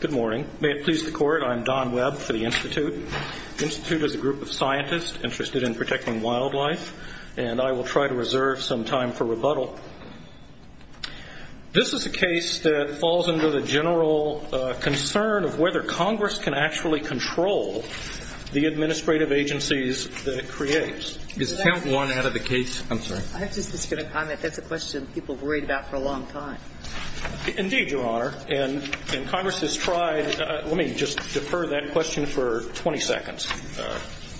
Good morning. May it please the Court, I'm Don Webb for the Institute. The Institute is a group of scientists interested in protecting wildlife, and I will try to reserve some time for rebuttal. This is a case that falls under the general concern of whether Congress can actually control the administrative agencies that it creates. Is count one out of the case? I'm sorry. I was just going to comment, that's a question people have worried about for a long time. Indeed, Your Honor. And Congress has tried, let me just defer that question for 20 seconds.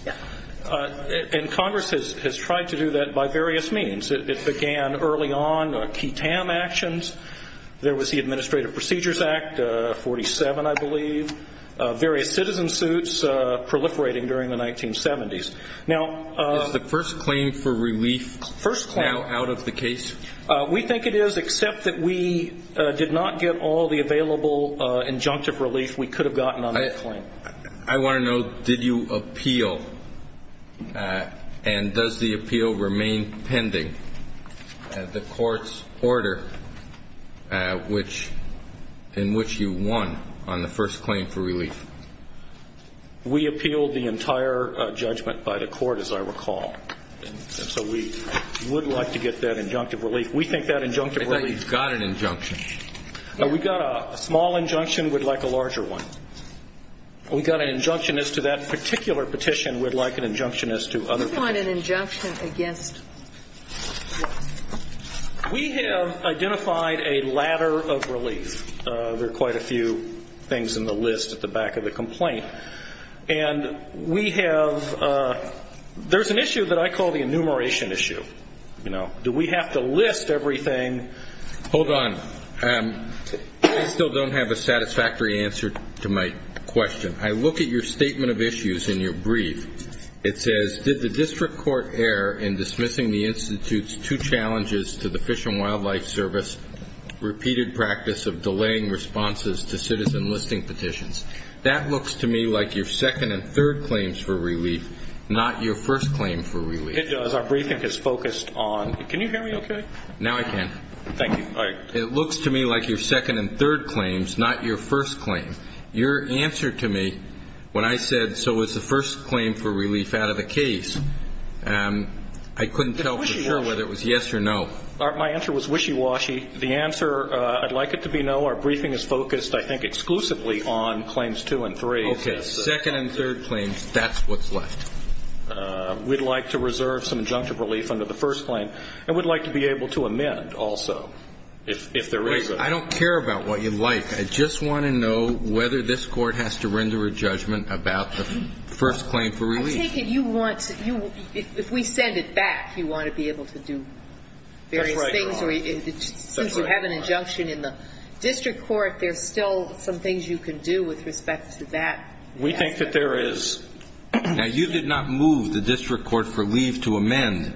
Yeah. And Congress has tried to do that by various means. It began early on, a key TAM actions. There was the Administrative Procedures Act, 47 I believe. Various citizen suits proliferating during the 1970s. Is the first claim for relief now out of the case? We think it is, except that we did not get all the available injunctive relief we could have gotten on that claim. I want to know, did you appeal, and does the appeal remain pending, the Court's order in which you won on the first claim for relief? We appealed the entire judgment by the Court, as I recall. And so we would like to get that injunctive relief. We think that injunctive relief I thought you got an injunction. We got a small injunction, we'd like a larger one. We got an injunction as to that particular petition, we'd like an injunction as to other petitions. You want an injunction against what? We have identified a ladder of relief. There are quite a few things in the list at the back of the complaint. And we have, there's an issue that I call the enumeration issue. You know, do we have to list everything? Hold on. I still don't have a satisfactory answer to my question. I look at your statement of issues in your brief. It says, did the district court err in dismissing the Institute's two challenges to the Fish and Wildlife Service, repeated practice of delaying responses to citizen listing petitions? That looks to me like your second and third claims for relief, not your first claim for relief. It does. Our briefing is focused on, can you hear me okay? Now I can. Thank you. All right. It looks to me like your second and third claims, not your first claim. Your answer to me when I said, so it's the first claim for relief out of the case, I couldn't tell for sure whether it was yes or no. My answer was wishy-washy. The answer, I'd like it to be no. Our briefing is focused, I think, exclusively on claims two and three. Okay. Second and third claims, that's what's left. We'd like to reserve some injunctive relief under the first claim. And we'd like to be able to amend also, if there is a. I don't care about what you like. I just want to know whether this Court has to render a judgment about the first claim for relief. I take it you want, if we send it back, you want to be able to do various things. That's right, Your Honor. Since you have an injunction in the district court, there's still some things you can do with respect to that. We think that there is. Now, you did not move the district court for leave to amend.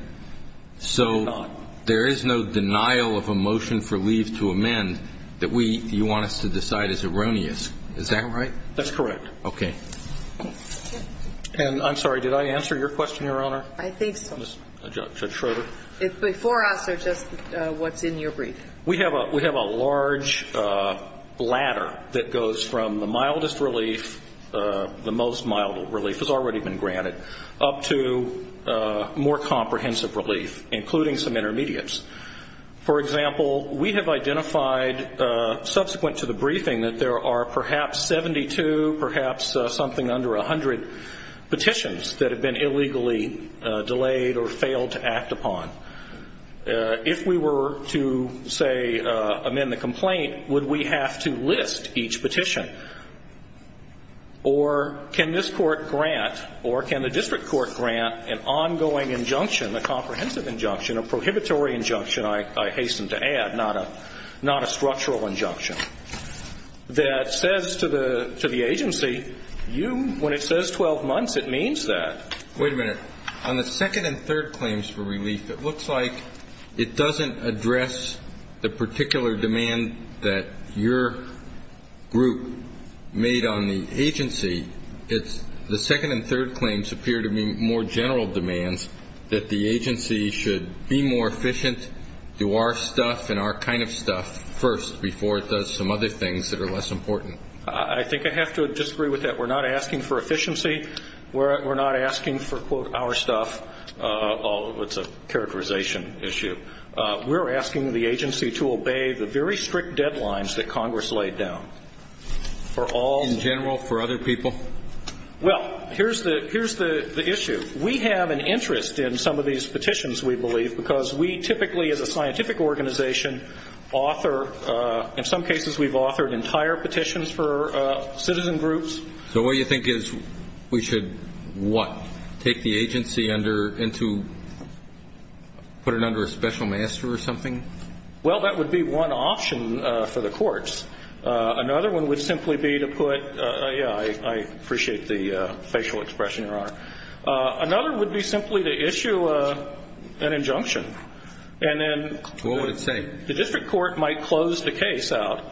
So there is no denial of a motion for leave to amend that we, you want us to decide is erroneous. Is that right? That's correct. Okay. And I'm sorry, did I answer your question, Your Honor? I think so. Judge Schroeder. Before us are just what's in your brief. We have a large ladder that goes from the mildest relief, the most mild relief has already been granted, up to more comprehensive relief, including some intermediates. For example, we have identified subsequent to the briefing that there are perhaps 72, perhaps something under 100 petitions that have been illegally delayed or failed to act upon. If we were to, say, amend the complaint, would we have to list each petition? Or can this court grant or can the district court grant an ongoing injunction, a comprehensive injunction, a prohibitory injunction, I hasten to add, not a structural injunction, that says to the agency, you, when it says 12 months, it means that. Wait a minute. On the second and third claims for relief, it looks like it doesn't address the particular demand that your group made on the agency. The second and third claims appear to be more general demands that the agency should be more efficient, do our stuff and our kind of stuff first before it does some other things that are less important. I think I have to disagree with that. We're not asking for efficiency. We're not asking for, quote, our stuff. It's a characterization issue. We're asking the agency to obey the very strict deadlines that Congress laid down. In general, for other people? Well, here's the issue. We have an interest in some of these petitions, we believe, because we typically as a scientific organization author, in some cases, we've authored entire petitions for citizen groups. So what you think is we should, what, take the agency under and to put it under a special master or something? Well, that would be one option for the courts. Another one would simply be to put, yeah, I appreciate the facial expression, Your Honor. Another would be simply to issue an injunction. And then the district court might close the case out.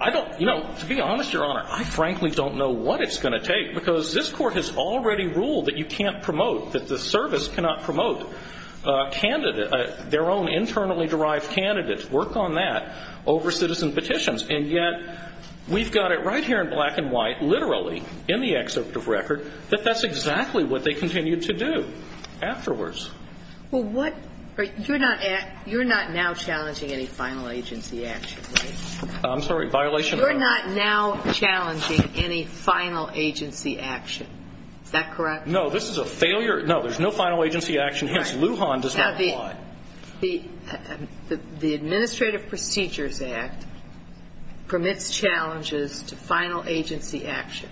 I don't, you know, to be honest, Your Honor, I frankly don't know what it's going to take, because this Court has already ruled that you can't promote, that the service cannot promote their own internally derived candidates, work on that, over citizen petitions. And yet we've got it right here in black and white, literally, in the excerpt of record, that that's exactly what they continued to do afterwards. Well, what, you're not now challenging any final agency action, right? I'm sorry, violation of what? You're not now challenging any final agency action. Is that correct? No, this is a failure. No, there's no final agency action. Hence, Lujan does not apply. Now, the Administrative Procedures Act permits challenges to final agency action.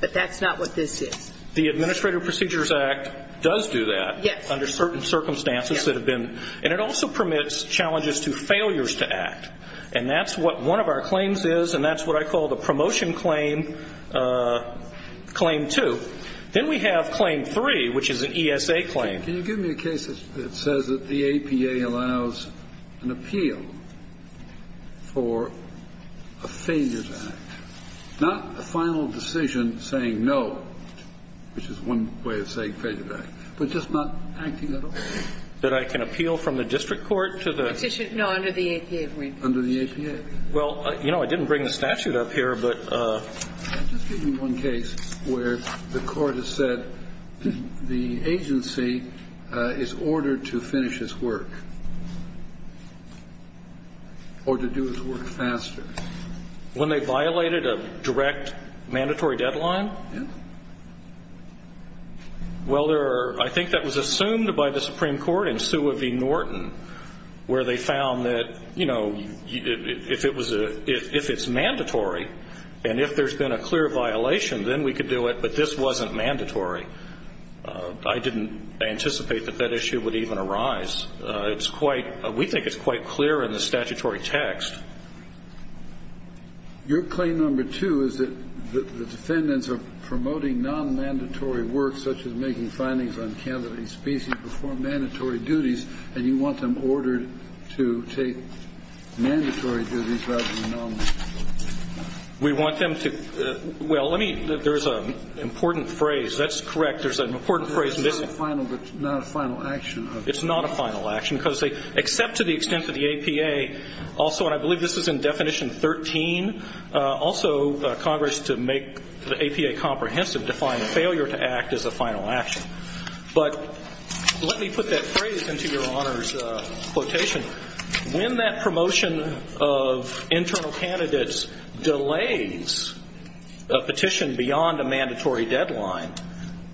But that's not what this is. The Administrative Procedures Act does do that. Yes. Under certain circumstances that have been. And it also permits challenges to failures to act. And that's what one of our claims is, and that's what I call the promotion claim, claim two. Then we have claim three, which is an ESA claim. Can you give me a case that says that the APA allows an appeal for a failures act? Not a final decision saying no, which is one way of saying failure act, but just not acting at all. That I can appeal from the district court to the. No, under the APA agreement. Under the APA. Well, you know, I didn't bring the statute up here, but. Just give me one case where the court has said the agency is ordered to finish its work or to do its work faster. When they violated a direct mandatory deadline? Yes. Well, there are. I think that was assumed by the Supreme Court in Sioux v. Norton where they found that, you know, if it was a, if it's mandatory and if there's been a clear violation, then we could do it, but this wasn't mandatory. I didn't anticipate that that issue would even arise. It's quite, we think it's quite clear in the statutory text. Your claim number two is that the defendants are promoting non-mandatory work, such as making findings on candidate species before mandatory duties, and you want them ordered to take mandatory duties rather than non-mandatory. We want them to. Well, let me, there's an important phrase. That's correct. There's an important phrase. It's not a final action. It's not a final action because they, except to the extent that the APA also, and I believe this is in definition 13, also Congress, to make the APA comprehensive, defined a failure to act as a final action. But let me put that phrase into Your Honor's quotation. When that promotion of internal candidates delays a petition beyond a mandatory deadline,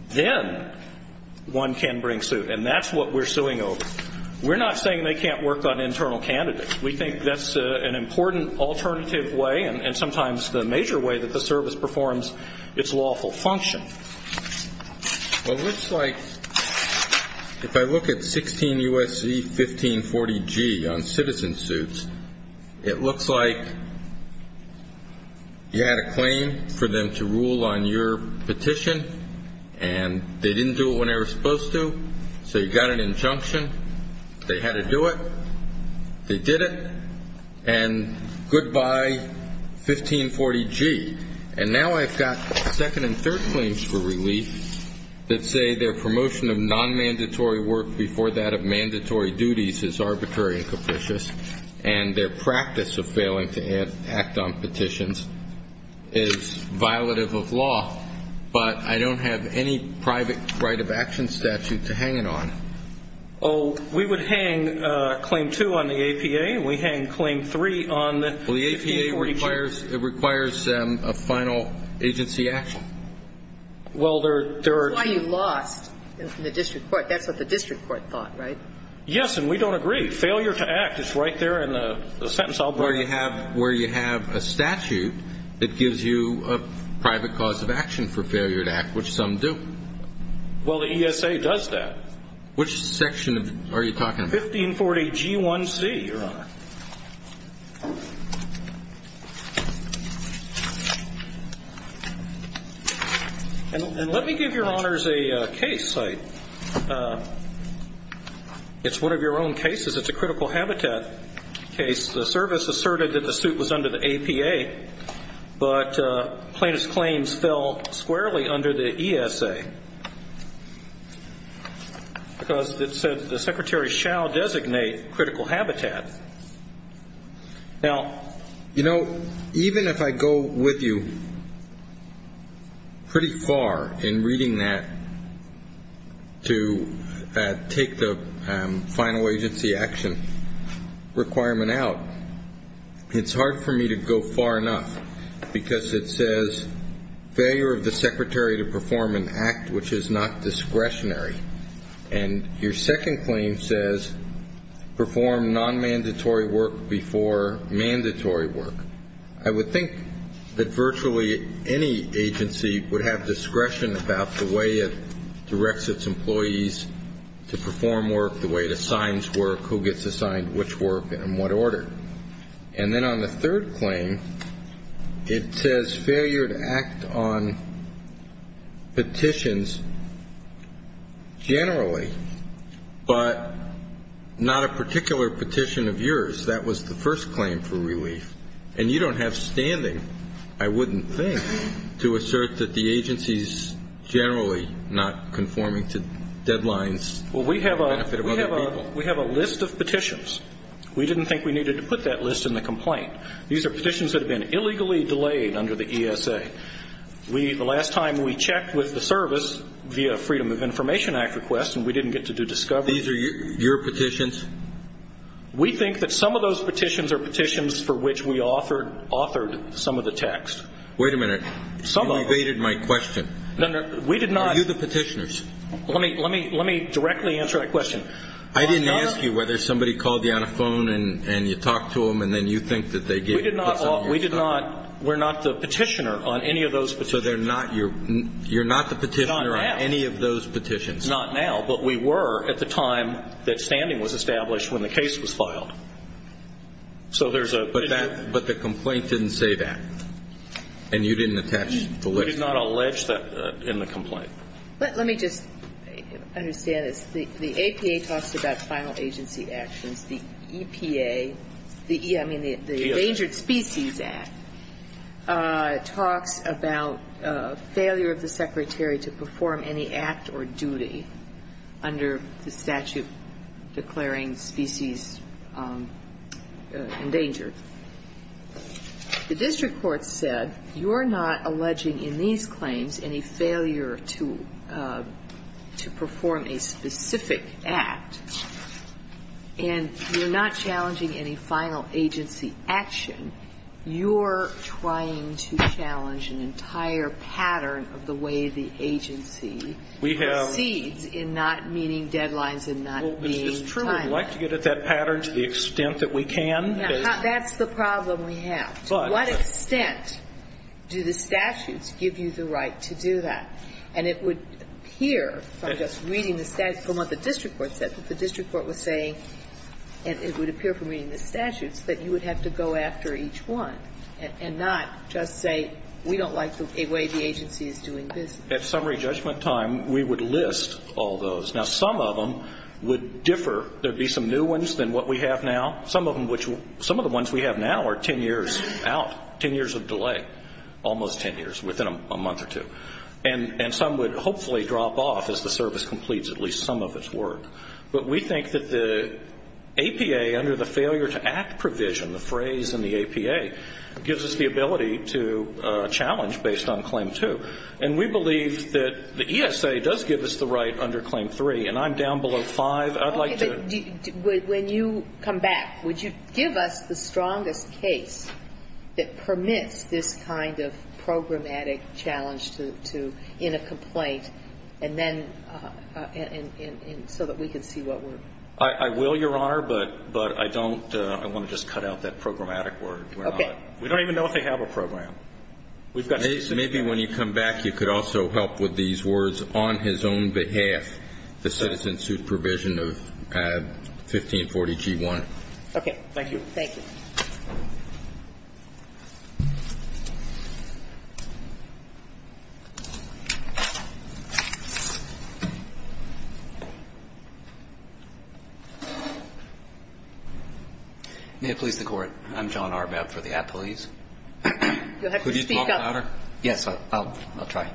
then one can bring suit, and that's what we're suing over. We're not saying they can't work on internal candidates. We think that's an important alternative way, and sometimes the major way that the service performs its lawful function. Well, it looks like if I look at 16 U.S.C. 1540G on citizen suits, it looks like you had a claim for them to rule on your petition, and they didn't do it when they were supposed to, so you got an injunction. They had to do it. They did it, and goodbye 1540G. And now I've got second and third claims for relief that say their promotion of non-mandatory work before that of mandatory duties is arbitrary and capricious, and their practice of failing to act on petitions is violative of law, but I don't have any private right of action statute to hang it on. Oh, we would hang Claim 2 on the APA, and we hang Claim 3 on the 1540G. Well, the APA requires a final agency action. Well, there are two. That's why you lost in the district court. That's what the district court thought, right? Yes, and we don't agree. Failure to act is right there in the sentence I'll bring. Where you have a statute that gives you a private cause of action for failure to act, which some do. Well, the ESA does that. Which section are you talking about? 1540G1C, Your Honor. And let me give Your Honors a case. It's one of your own cases. It's a critical habitat case. The service asserted that the suit was under the APA, but plaintiff's claims fell squarely under the ESA because it said the secretary shall designate critical habitat. Now, you know, even if I go with you pretty far in reading that to take the final agency action requirement out, it's hard for me to go far enough because it says failure of the secretary to perform an act which is not discretionary. And your second claim says perform nonmandatory work before mandatory work. I would think that virtually any agency would have discretion about the way it directs its employees to perform work, the way it assigns work, who gets assigned which work and in what order. And then on the third claim, it says failure to act on petitions generally, but not a particular petition of yours. That was the first claim for relief. And you don't have standing, I wouldn't think, to assert that the agency's generally not conforming to deadlines. Well, we have a list of petitions. We didn't think we needed to put that list in the complaint. These are petitions that have been illegally delayed under the ESA. The last time we checked with the service via Freedom of Information Act request and we didn't get to do discovery. These are your petitions? We think that some of those petitions are petitions for which we authored some of the text. Wait a minute. Some of them. You evaded my question. We did not. Are you the petitioners? Let me directly answer that question. I didn't ask you whether somebody called you on a phone and you talked to them and then you think that they gave you some of your stuff. We did not. We're not the petitioner on any of those petitions. So you're not the petitioner on any of those petitions. Not now. But we were at the time that standing was established when the case was filed. So there's a. But the complaint didn't say that. We did not allege that in the complaint. Let me just understand this. The APA talks about final agency actions. The EPA, the Endangered Species Act, talks about failure of the Secretary to perform any act or duty under the statute declaring species endangered. The district court said you're not alleging in these claims any failure to perform a specific act, and you're not challenging any final agency action. You're trying to challenge an entire pattern of the way the agency proceeds in not meeting deadlines and not meeting timelines. Well, is this true? We'd like to get at that pattern to the extent that we can. That's the problem we have. To what extent do the statutes give you the right to do that? And it would appear from just reading the statute, from what the district court said, that the district court was saying, and it would appear from reading the statutes, that you would have to go after each one and not just say we don't like the way the agency is doing business. At summary judgment time, we would list all those. Now, some of them would differ. There would be some new ones than what we have now. Some of the ones we have now are 10 years out, 10 years of delay, almost 10 years, within a month or two. And some would hopefully drop off as the service completes at least some of its work. But we think that the APA, under the failure to act provision, the phrase in the APA, gives us the ability to challenge based on claim two. And we believe that the ESA does give us the right under claim three, and I'm down below five. But I'd like to When you come back, would you give us the strongest case that permits this kind of programmatic challenge to, in a complaint, and then, and so that we can see what we're I will, Your Honor, but I don't, I want to just cut out that programmatic word. Okay. We don't even know if they have a program. We've got Maybe when you come back, you could also help with these words, on his own behalf, the citizen supervision of AB 1540G1. Okay. Thank you. Thank you. May it please the Court. I'm John Arbab for the Appellees. You'll have to speak up. Could you talk louder? Yes, I'll try.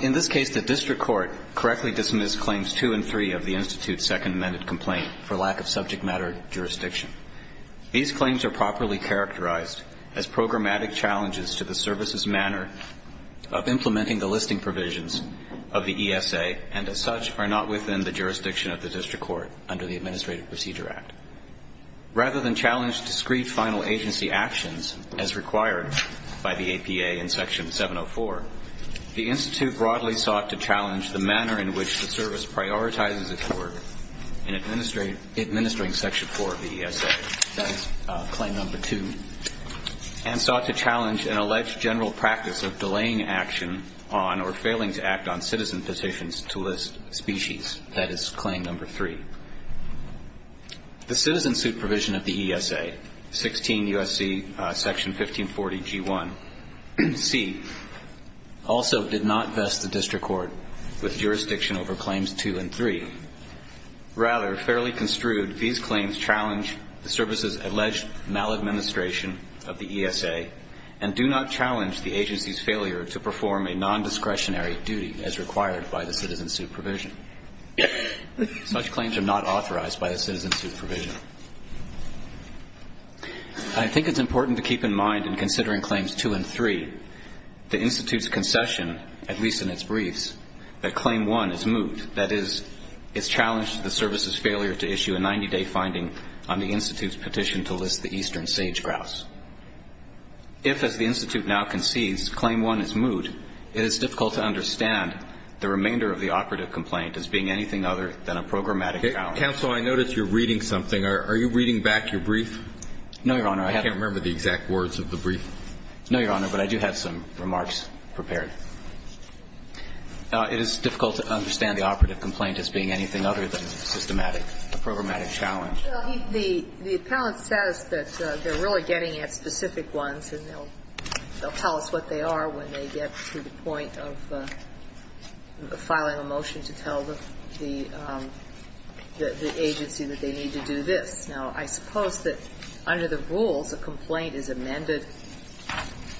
In this case, the district court correctly dismissed claims two and three of the Institute's second amended complaint for lack of subject matter jurisdiction. These claims are properly characterized as programmatic challenges to the service's manner of implementing the listing provisions of the ESA, and as such, are not within the jurisdiction of the district court under the Administrative Procedure Act. Rather than challenge discreet final agency actions as required by the APA in Section 704, the Institute broadly sought to challenge the manner in which the service prioritizes its work in administering Section 4 of the ESA, that is, Claim Number 2, and sought to challenge an alleged general practice of delaying action on or failing to act on citizen petitions to list species, that is, Claim Number 3. The citizen suit provision of the ESA, 16 U.S.C. Section 1540, G1, C, also did not vest the district court with jurisdiction over claims two and three. Rather, fairly construed, these claims challenge the service's alleged maladministration of the ESA and do not challenge the agency's failure to perform a nondiscretionary duty as required by the citizen suit provision. Such claims are not authorized by the citizen suit provision. I think it's important to keep in mind in considering claims two and three, the Institute's concession, at least in its briefs, that Claim 1 is moot. That is, it's challenged the service's failure to issue a 90-day finding on the Institute's petition to list the eastern sage-grouse. If, as the Institute now concedes, Claim 1 is moot, it is difficult to understand the remainder of the operative complaint as being anything other than a programmatic challenge. Counsel, I notice you're reading something. Are you reading back your brief? No, Your Honor. I can't remember the exact words of the brief. No, Your Honor, but I do have some remarks prepared. It is difficult to understand the operative complaint as being anything other than a systematic, a programmatic challenge. The appellant says that they're really getting at specific ones, and they'll tell us what they are when they get to the point of filing a motion to tell the agency that they need to do this. Now, I suppose that under the rules, a complaint is amended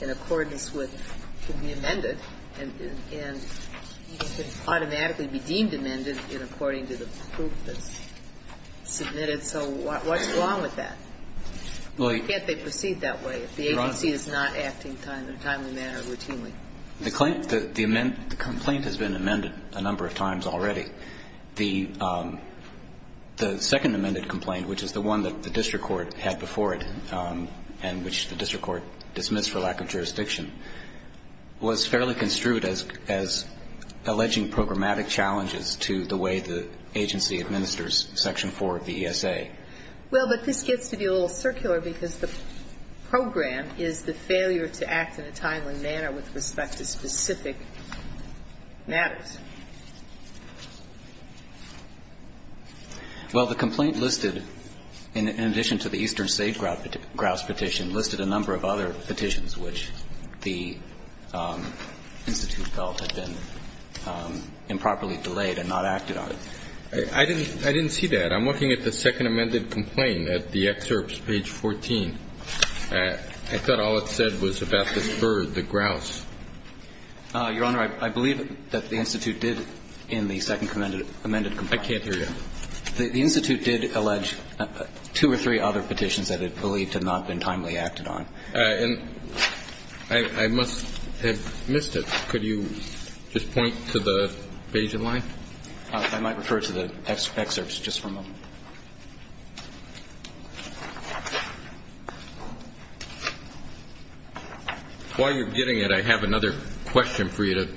in accordance with, can be amended, and can automatically be deemed amended in according to the proof that's submitted. So what's wrong with that? Why can't they proceed that way? The agency is not acting in a timely manner or routinely. The complaint has been amended a number of times already. The second amended complaint, which is the one that the district court had before it and which the district court dismissed for lack of jurisdiction, was fairly construed as alleging programmatic challenges to the way the agency administers Section 4 of the ESA. Well, but this gets to be a little circular because the program is the failure to act in a timely manner with respect to specific matters. Well, the complaint listed, in addition to the Eastern State grouse petition, listed a number of other petitions which the institute felt had been improperly delayed and not acted on. I didn't see that. I'm looking at the second amended complaint at the excerpts, page 14. I thought all it said was about this bird, the grouse. Your Honor, I believe that the institute did in the second amended complaint. I can't hear you. The institute did allege two or three other petitions that it believed had not been timely acted on. And I must have missed it. Could you just point to the Bayesian line? I might refer to the excerpts just for a moment. While you're getting it, I have another question for you to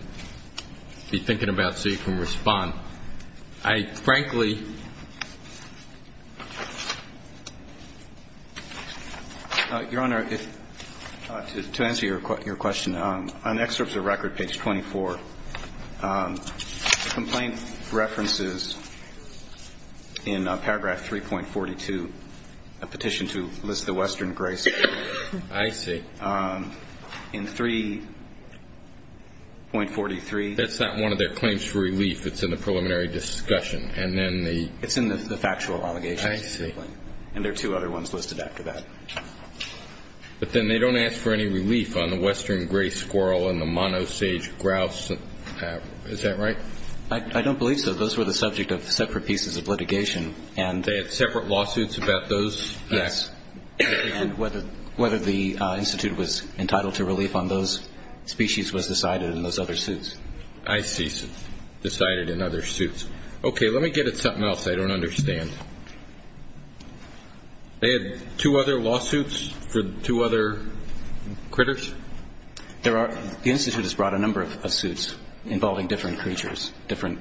be thinking about so you can respond. I frankly ---- Your Honor, to answer your question, on excerpts of record, page 24, the complaint references in paragraph 3.42 a petition to list the Western gray squirrel. I see. In 3.43 ---- That's not one of their claims for relief. It's in the preliminary discussion. And then the ---- It's in the factual allegations. I see. And there are two other ones listed after that. But then they don't ask for any relief on the Western gray squirrel and the monosage grouse. Is that right? I don't believe so. Those were the subject of separate pieces of litigation. And ---- They had separate lawsuits about those? Yes. And whether the institute was entitled to relief on those species was decided in those other suits. I see. Decided in other suits. Okay. Let me get at something else I don't understand. They had two other lawsuits for two other critters? There are ---- The institute has brought a number of suits involving different creatures, different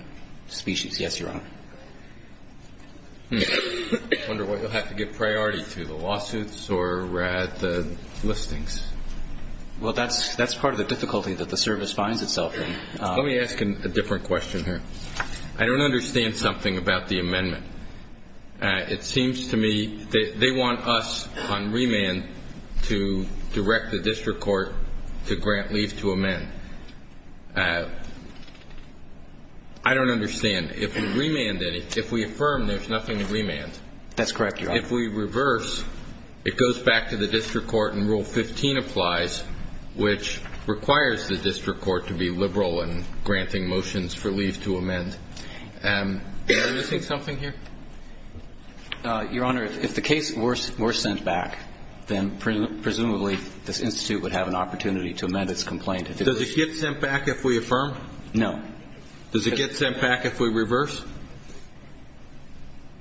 species. Yes, Your Honor. I wonder what you'll have to give priority to, the lawsuits or the listings. Well, that's part of the difficulty that the service finds itself in. Let me ask a different question here. I don't understand something about the amendment. It seems to me they want us on remand to direct the district court to grant leave to amend. I don't understand. If we remand any, if we affirm there's nothing to remand. That's correct, Your Honor. If we reverse, it goes back to the district court and Rule 15 applies, which requires the district court to be liberal in granting motions for leave to amend. Am I missing something here? Your Honor, if the case were sent back, then presumably this institute would have an opportunity to amend its complaint. Does it get sent back if we affirm? No. Does it get sent back if we reverse?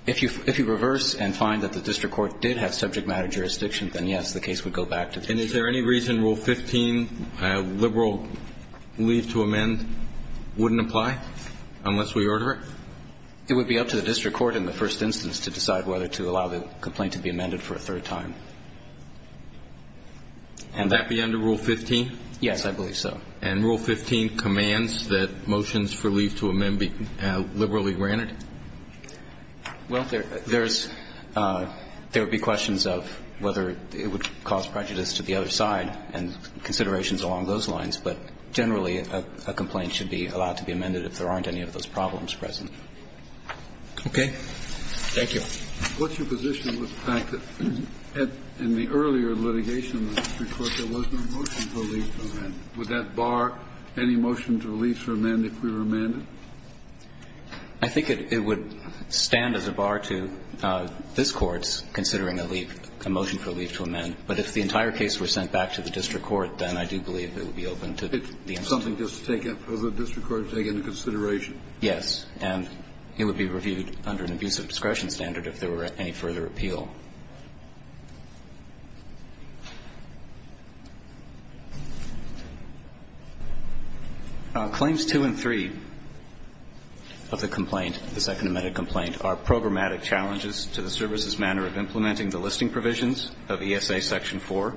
If you reverse and find that the district court did have subject matter jurisdiction, then, yes, the case would go back to the district court. And is there any reason Rule 15, liberal leave to amend, wouldn't apply unless we order it? It would be up to the district court in the first instance to decide whether to allow the complaint to be amended for a third time. And that be under Rule 15? Yes, I believe so. And Rule 15 commands that motions for leave to amend be liberally granted? Well, there's – there would be questions of whether it would cause prejudice to the other side and considerations along those lines, but generally a complaint should be allowed to be amended if there aren't any of those problems present. Okay. Thank you. What's your position with the fact that in the earlier litigation of the district court there was no motions for leave to amend? Would that bar any motions for leave to amend if we were amended? I think it would stand as a bar to this Court's considering a leave – a motion for leave to amend. But if the entire case were sent back to the district court, then I do believe it would be open to the institute. It's something just to take – for the district court to take into consideration? Yes. And it would be reviewed under an abuse of discretion standard if there were any further appeal. Claims 2 and 3 of the complaint, the Second Amended Complaint, are programmatic challenges to the service's manner of implementing the listing provisions of ESA Section 4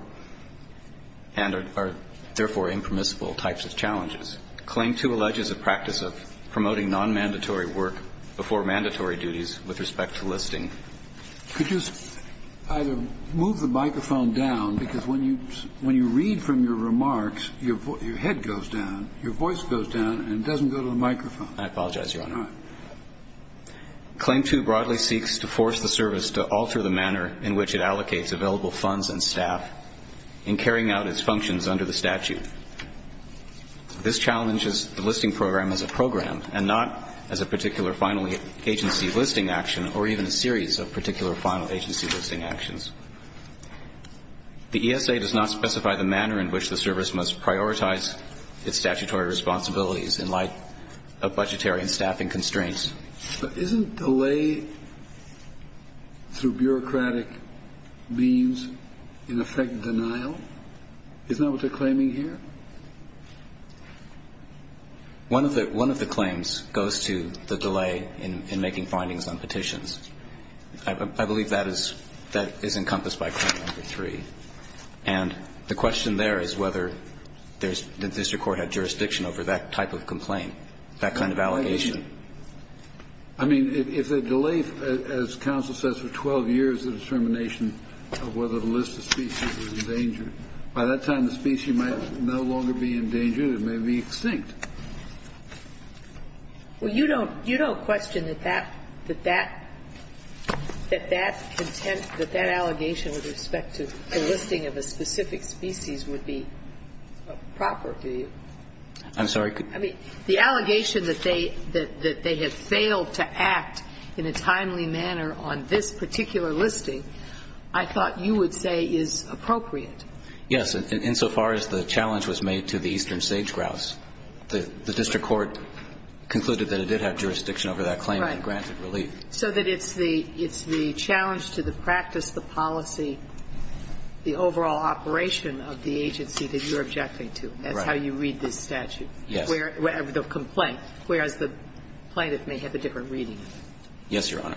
and are therefore impermissible types of challenges. Claim 2 alleges a practice of promoting nonmandatory work before mandatory duties with respect to listing. Could you either move the microphone down, because when you read from your remarks your head goes down, your voice goes down, and it doesn't go to the microphone. I apologize, Your Honor. All right. Claim 2 broadly seeks to force the service to alter the manner in which it allocates available funds and staff in carrying out its functions under the statute. This challenges the listing program as a program and not as a particular final agency listing action or even a series of particular final agency listing actions. The ESA does not specify the manner in which the service must prioritize its statutory responsibilities in light of budgetary and staffing constraints. But isn't delay through bureaucratic means, in effect, denial? Isn't that what they're claiming here? One of the claims goes to the delay in making findings on petitions. I believe that is encompassed by Claim 3. And the question there is whether there's the district court had jurisdiction over that type of complaint, that kind of allegation. I mean, if the delay, as counsel says, for 12 years, the determination of whether a list of species was endangered, by that time the species might no longer be endangered. It may be extinct. Well, you don't question that that allegation with respect to the listing of a specific species would be proper, do you? I'm sorry. I mean, the allegation that they have failed to act in a timely manner on this particular listing, I thought you would say is appropriate. Yes. Insofar as the challenge was made to the eastern sage-grouse. The district court concluded that it did have jurisdiction over that claim and granted relief. Right. So that it's the challenge to the practice, the policy, the overall operation of the agency that you're objecting to. Right. That's how you read this statute. Yes. The complaint, whereas the plaintiff may have a different reading. Yes, Your Honor.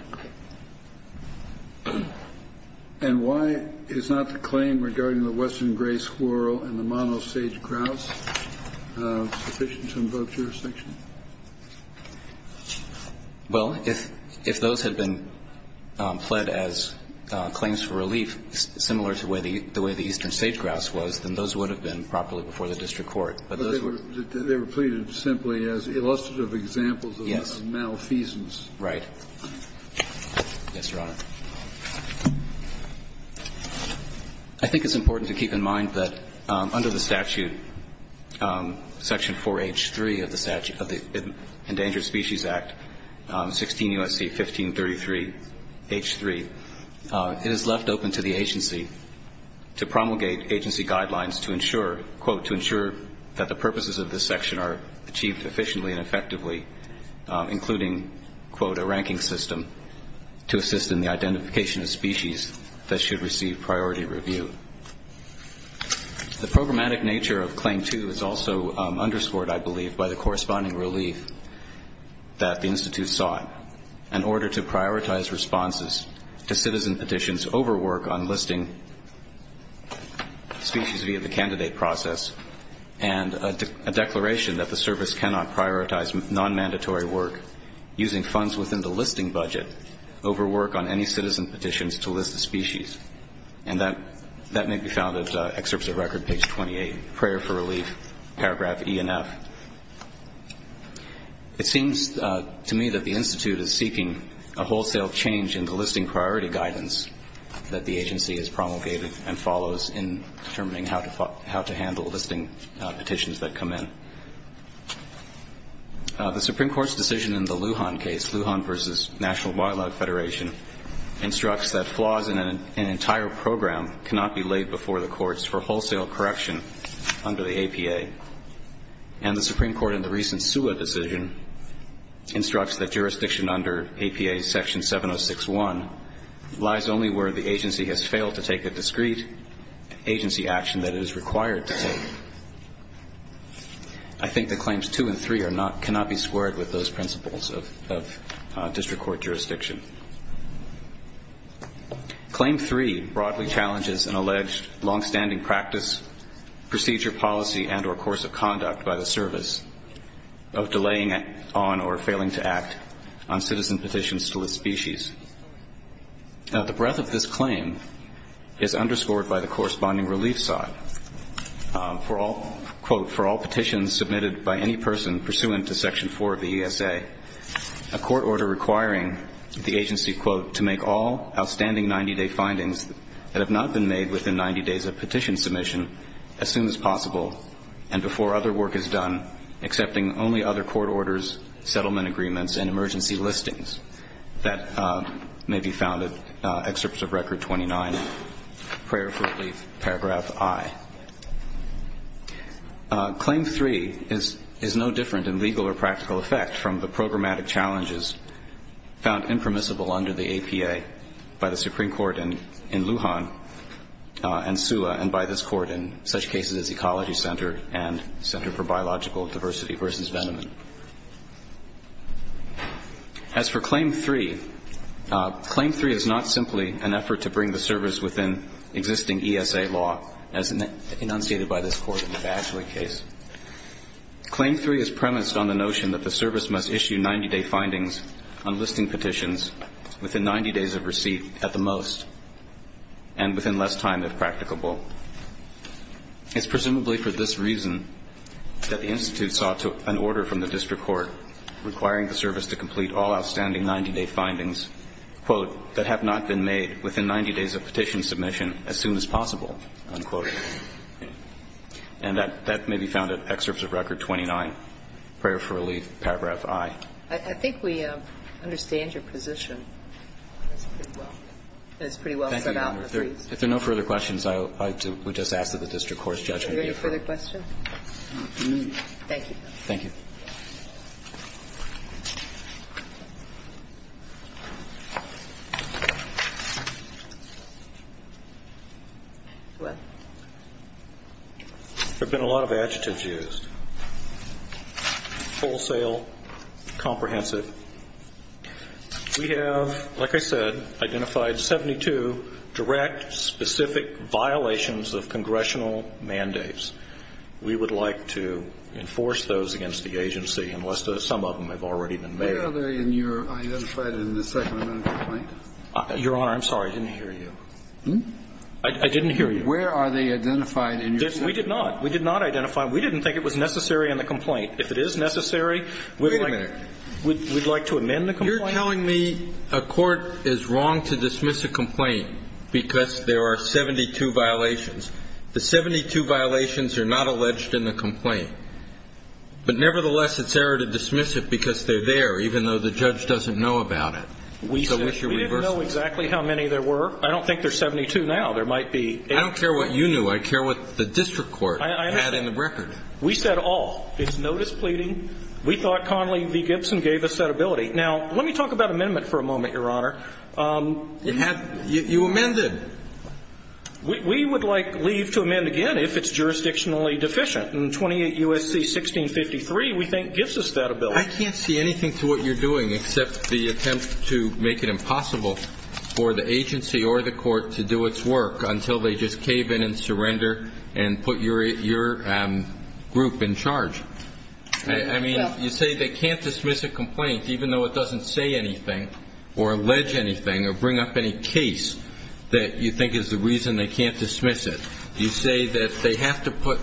And why is not the claim regarding the western gray squirrel and the mono-sage-grouse sufficient to invoke jurisdiction? Well, if those had been pled as claims for relief, similar to the way the eastern sage-grouse was, then those would have been properly before the district court. But they were pleaded simply as illustrative examples of malfeasance. Right. Yes, Your Honor. I think it's important to keep in mind that under the statute, Section 4H3 of the Endangered Species Act, 16 U.S.C. 1533 H3, it is left open to the agency to promulgate agency guidelines to ensure, quote, to ensure that the purposes of this section are achieved efficiently and effectively, including, quote, a ranking system to assist in the identification of species that should receive priority review. The programmatic nature of Claim 2 is also underscored, I believe, by the corresponding relief that the Institute sought in order to prioritize responses to citizen petitions over work on non-mandatory work using funds within the listing budget over work on any citizen petitions to list the species. And that may be found at Excerpts of Record, page 28, Prayer for Relief, paragraph E and F. It seems to me that the Institute is seeking a wholesale change in the listing priority guidance that the agency has promulgated and follows in determining how to handle listing petitions that come in. The Supreme Court's decision in the Lujan case, Lujan v. National Wildlife Federation, instructs that flaws in an entire program cannot be laid before the courts for wholesale correction under the APA. And the Supreme Court, in the recent SUA decision, instructs that jurisdiction under APA Section 706-1 lies only where the agency has failed to take a discrete agency action that it is required to take. I think that Claims 2 and 3 cannot be squared with those principles of district court jurisdiction. Claim 3 broadly challenges an alleged longstanding practice, procedure, policy, and or course of conduct by the service of delaying on or failing to act on citizen petitions to list species. Now, the breadth of this claim is underscored by the corresponding relief side. For all, quote, for all petitions submitted by any person pursuant to Section 4 of the ESA, a court order requiring the agency, quote, to make all outstanding 90-day findings that have not been made within 90 days of petition submission as soon as possible and before other work is done, accepting only other court orders, settlement agreements, and emergency listings that may be found in Excerpts of Record 29, Prayer for Relief, Paragraph I. Claim 3 is no different in legal or practical effect from the programmatic challenges found impermissible under the APA by the Supreme Court in Lujan and SUA and by this Court in such cases as Ecology Center and Center for Biological Diversity v. Veneman. As for Claim 3, Claim 3 is not simply an effort to bring the service within existing ESA law as enunciated by this Court in the Badgley case. Claim 3 is premised on the notion that the service must issue 90-day findings on listing petitions within 90 days of receipt at the most and within less time if practicable. It's presumably for this reason that the Institute sought an order from the district court requiring the service to complete all outstanding 90-day findings, quote, that have not been made within 90 days of petition submission as soon as possible, unquote. And that may be found in Excerpts of Record 29, Prayer for Relief, Paragraph I. I think we understand your position. It's pretty well set out. If there are no further questions, I would just ask that the district court's judgment be approved. Are there any further questions? Thank you. Thank you. There have been a lot of adjectives used. Full sale, comprehensive. We have, like I said, identified 72 direct specific violations of congressional mandates. We would like to enforce those against the agency unless some of them have already been made. Where are they in your identified in the second amendment complaint? Your Honor, I'm sorry. I didn't hear you. I didn't hear you. Where are they identified in your second amendment complaint? We did not. We did not identify them. We didn't think it was necessary in the complaint. If it is necessary, we would like to amend the complaint. Wait a minute. You're telling me a court is wrong to dismiss a complaint because there are 72 violations. The 72 violations are not alleged in the complaint. But nevertheless, it's error to dismiss it because they're there, even though the judge doesn't know about it. We didn't know exactly how many there were. I don't think there are 72 now. There might be eight. I don't care what you knew. I care what the district court had in the record. We said all. It's notice pleading. We thought Connolly v. Gibson gave us that ability. Now, let me talk about amendment for a moment, Your Honor. You amended. We would like leave to amend again if it's jurisdictionally deficient. In 28 U.S.C. 1653, we think, gives us that ability. I can't see anything to what you're doing except the attempt to make it impossible for the agency or the court to do its work until they just cave in and surrender and put your group in charge. I mean, you say they can't dismiss a complaint, even though it doesn't say anything or allege anything or bring up any case that you think is the reason they can't dismiss it. You say that they have to put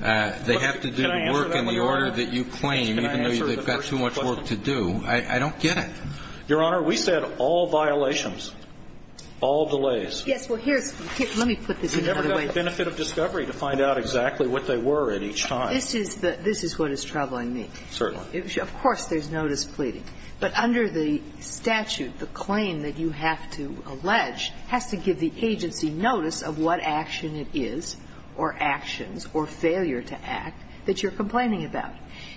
they have to do the work in the order that you claim, even though they've got too much work to do. I don't get it. Your Honor, we said all violations, all delays. Yes. Well, here's the thing. Let me put this another way. You never got the benefit of discovery to find out exactly what they were at each time. This is what is troubling me. Certainly. Of course there's notice pleading. But under the statute, the claim that you have to allege has to give the agency notice of what action it is or actions or failure to act that you're complaining about.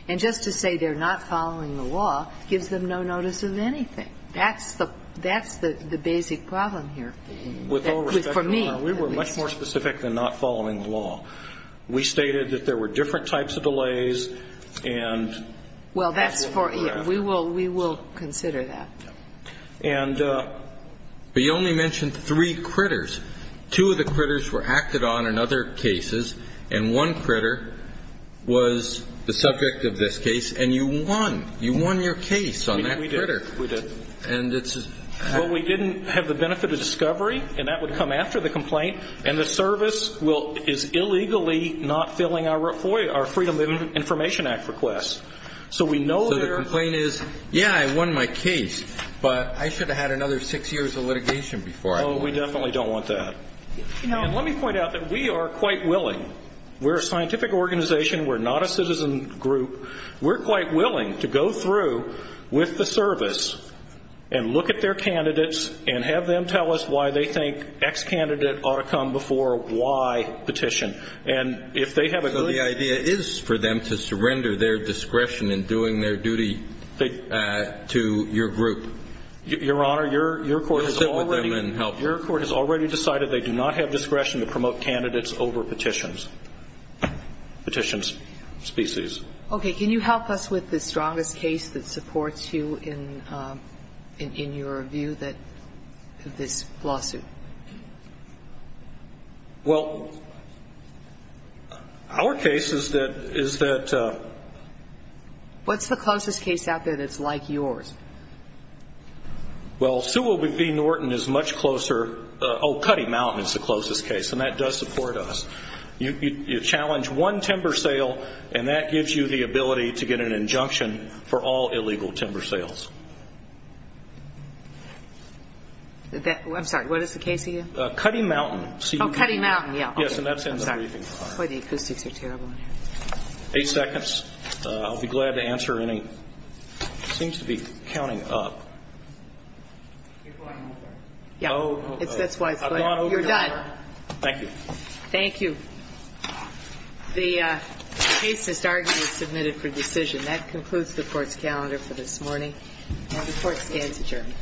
And just to say they're not following the law gives them no notice of anything. That's the basic problem here for me. With all respect, Your Honor, we were much more specific than not following the law. We stated that there were different types of delays. Well, that's for you. We will consider that. And you only mentioned three critters. Two of the critters were acted on in other cases. And one critter was the subject of this case. And you won. You won your case on that critter. We did. We did. Well, we didn't have the benefit of discovery. And that would come after the complaint. And the service is illegally not filling our Freedom of Information Act request. So the complaint is, yeah, I won my case. But I should have had another six years of litigation before. No, we definitely don't want that. And let me point out that we are quite willing. We're a scientific organization. We're not a citizen group. We're quite willing to go through with the service and look at their candidates and have them tell us why they think X candidate ought to come before Y petition. And if they have a good idea. So the idea is for them to surrender their discretion in doing their duty to your group. Your Honor, your court has already. To sit with them and help. Your court has already decided they do not have discretion to promote candidates over petitions. Petitions. Species. Okay. Can you help us with the strongest case that supports you in your view that this lawsuit? Well, our case is that... What's the closest case out there that's like yours? Well, Sue Willoughby Norton is much closer... Oh, Cuddy Mountain is the closest case. And that does support us. You challenge one timber sale. And that gives you the ability to get an injunction for all illegal timber sales. I'm sorry. What is the case again? Cuddy Mountain. Oh, Cuddy Mountain, yeah. Yes, and that's in the briefing file. Boy, the acoustics are terrible in here. Eight seconds. I'll be glad to answer any... It seems to be counting up. You're going over. Yeah. That's why it's late. I've gone over. You're done. Thank you. Thank you. The case has arguably submitted for decision. That concludes the court's calendar for this morning. And the court stands adjourned.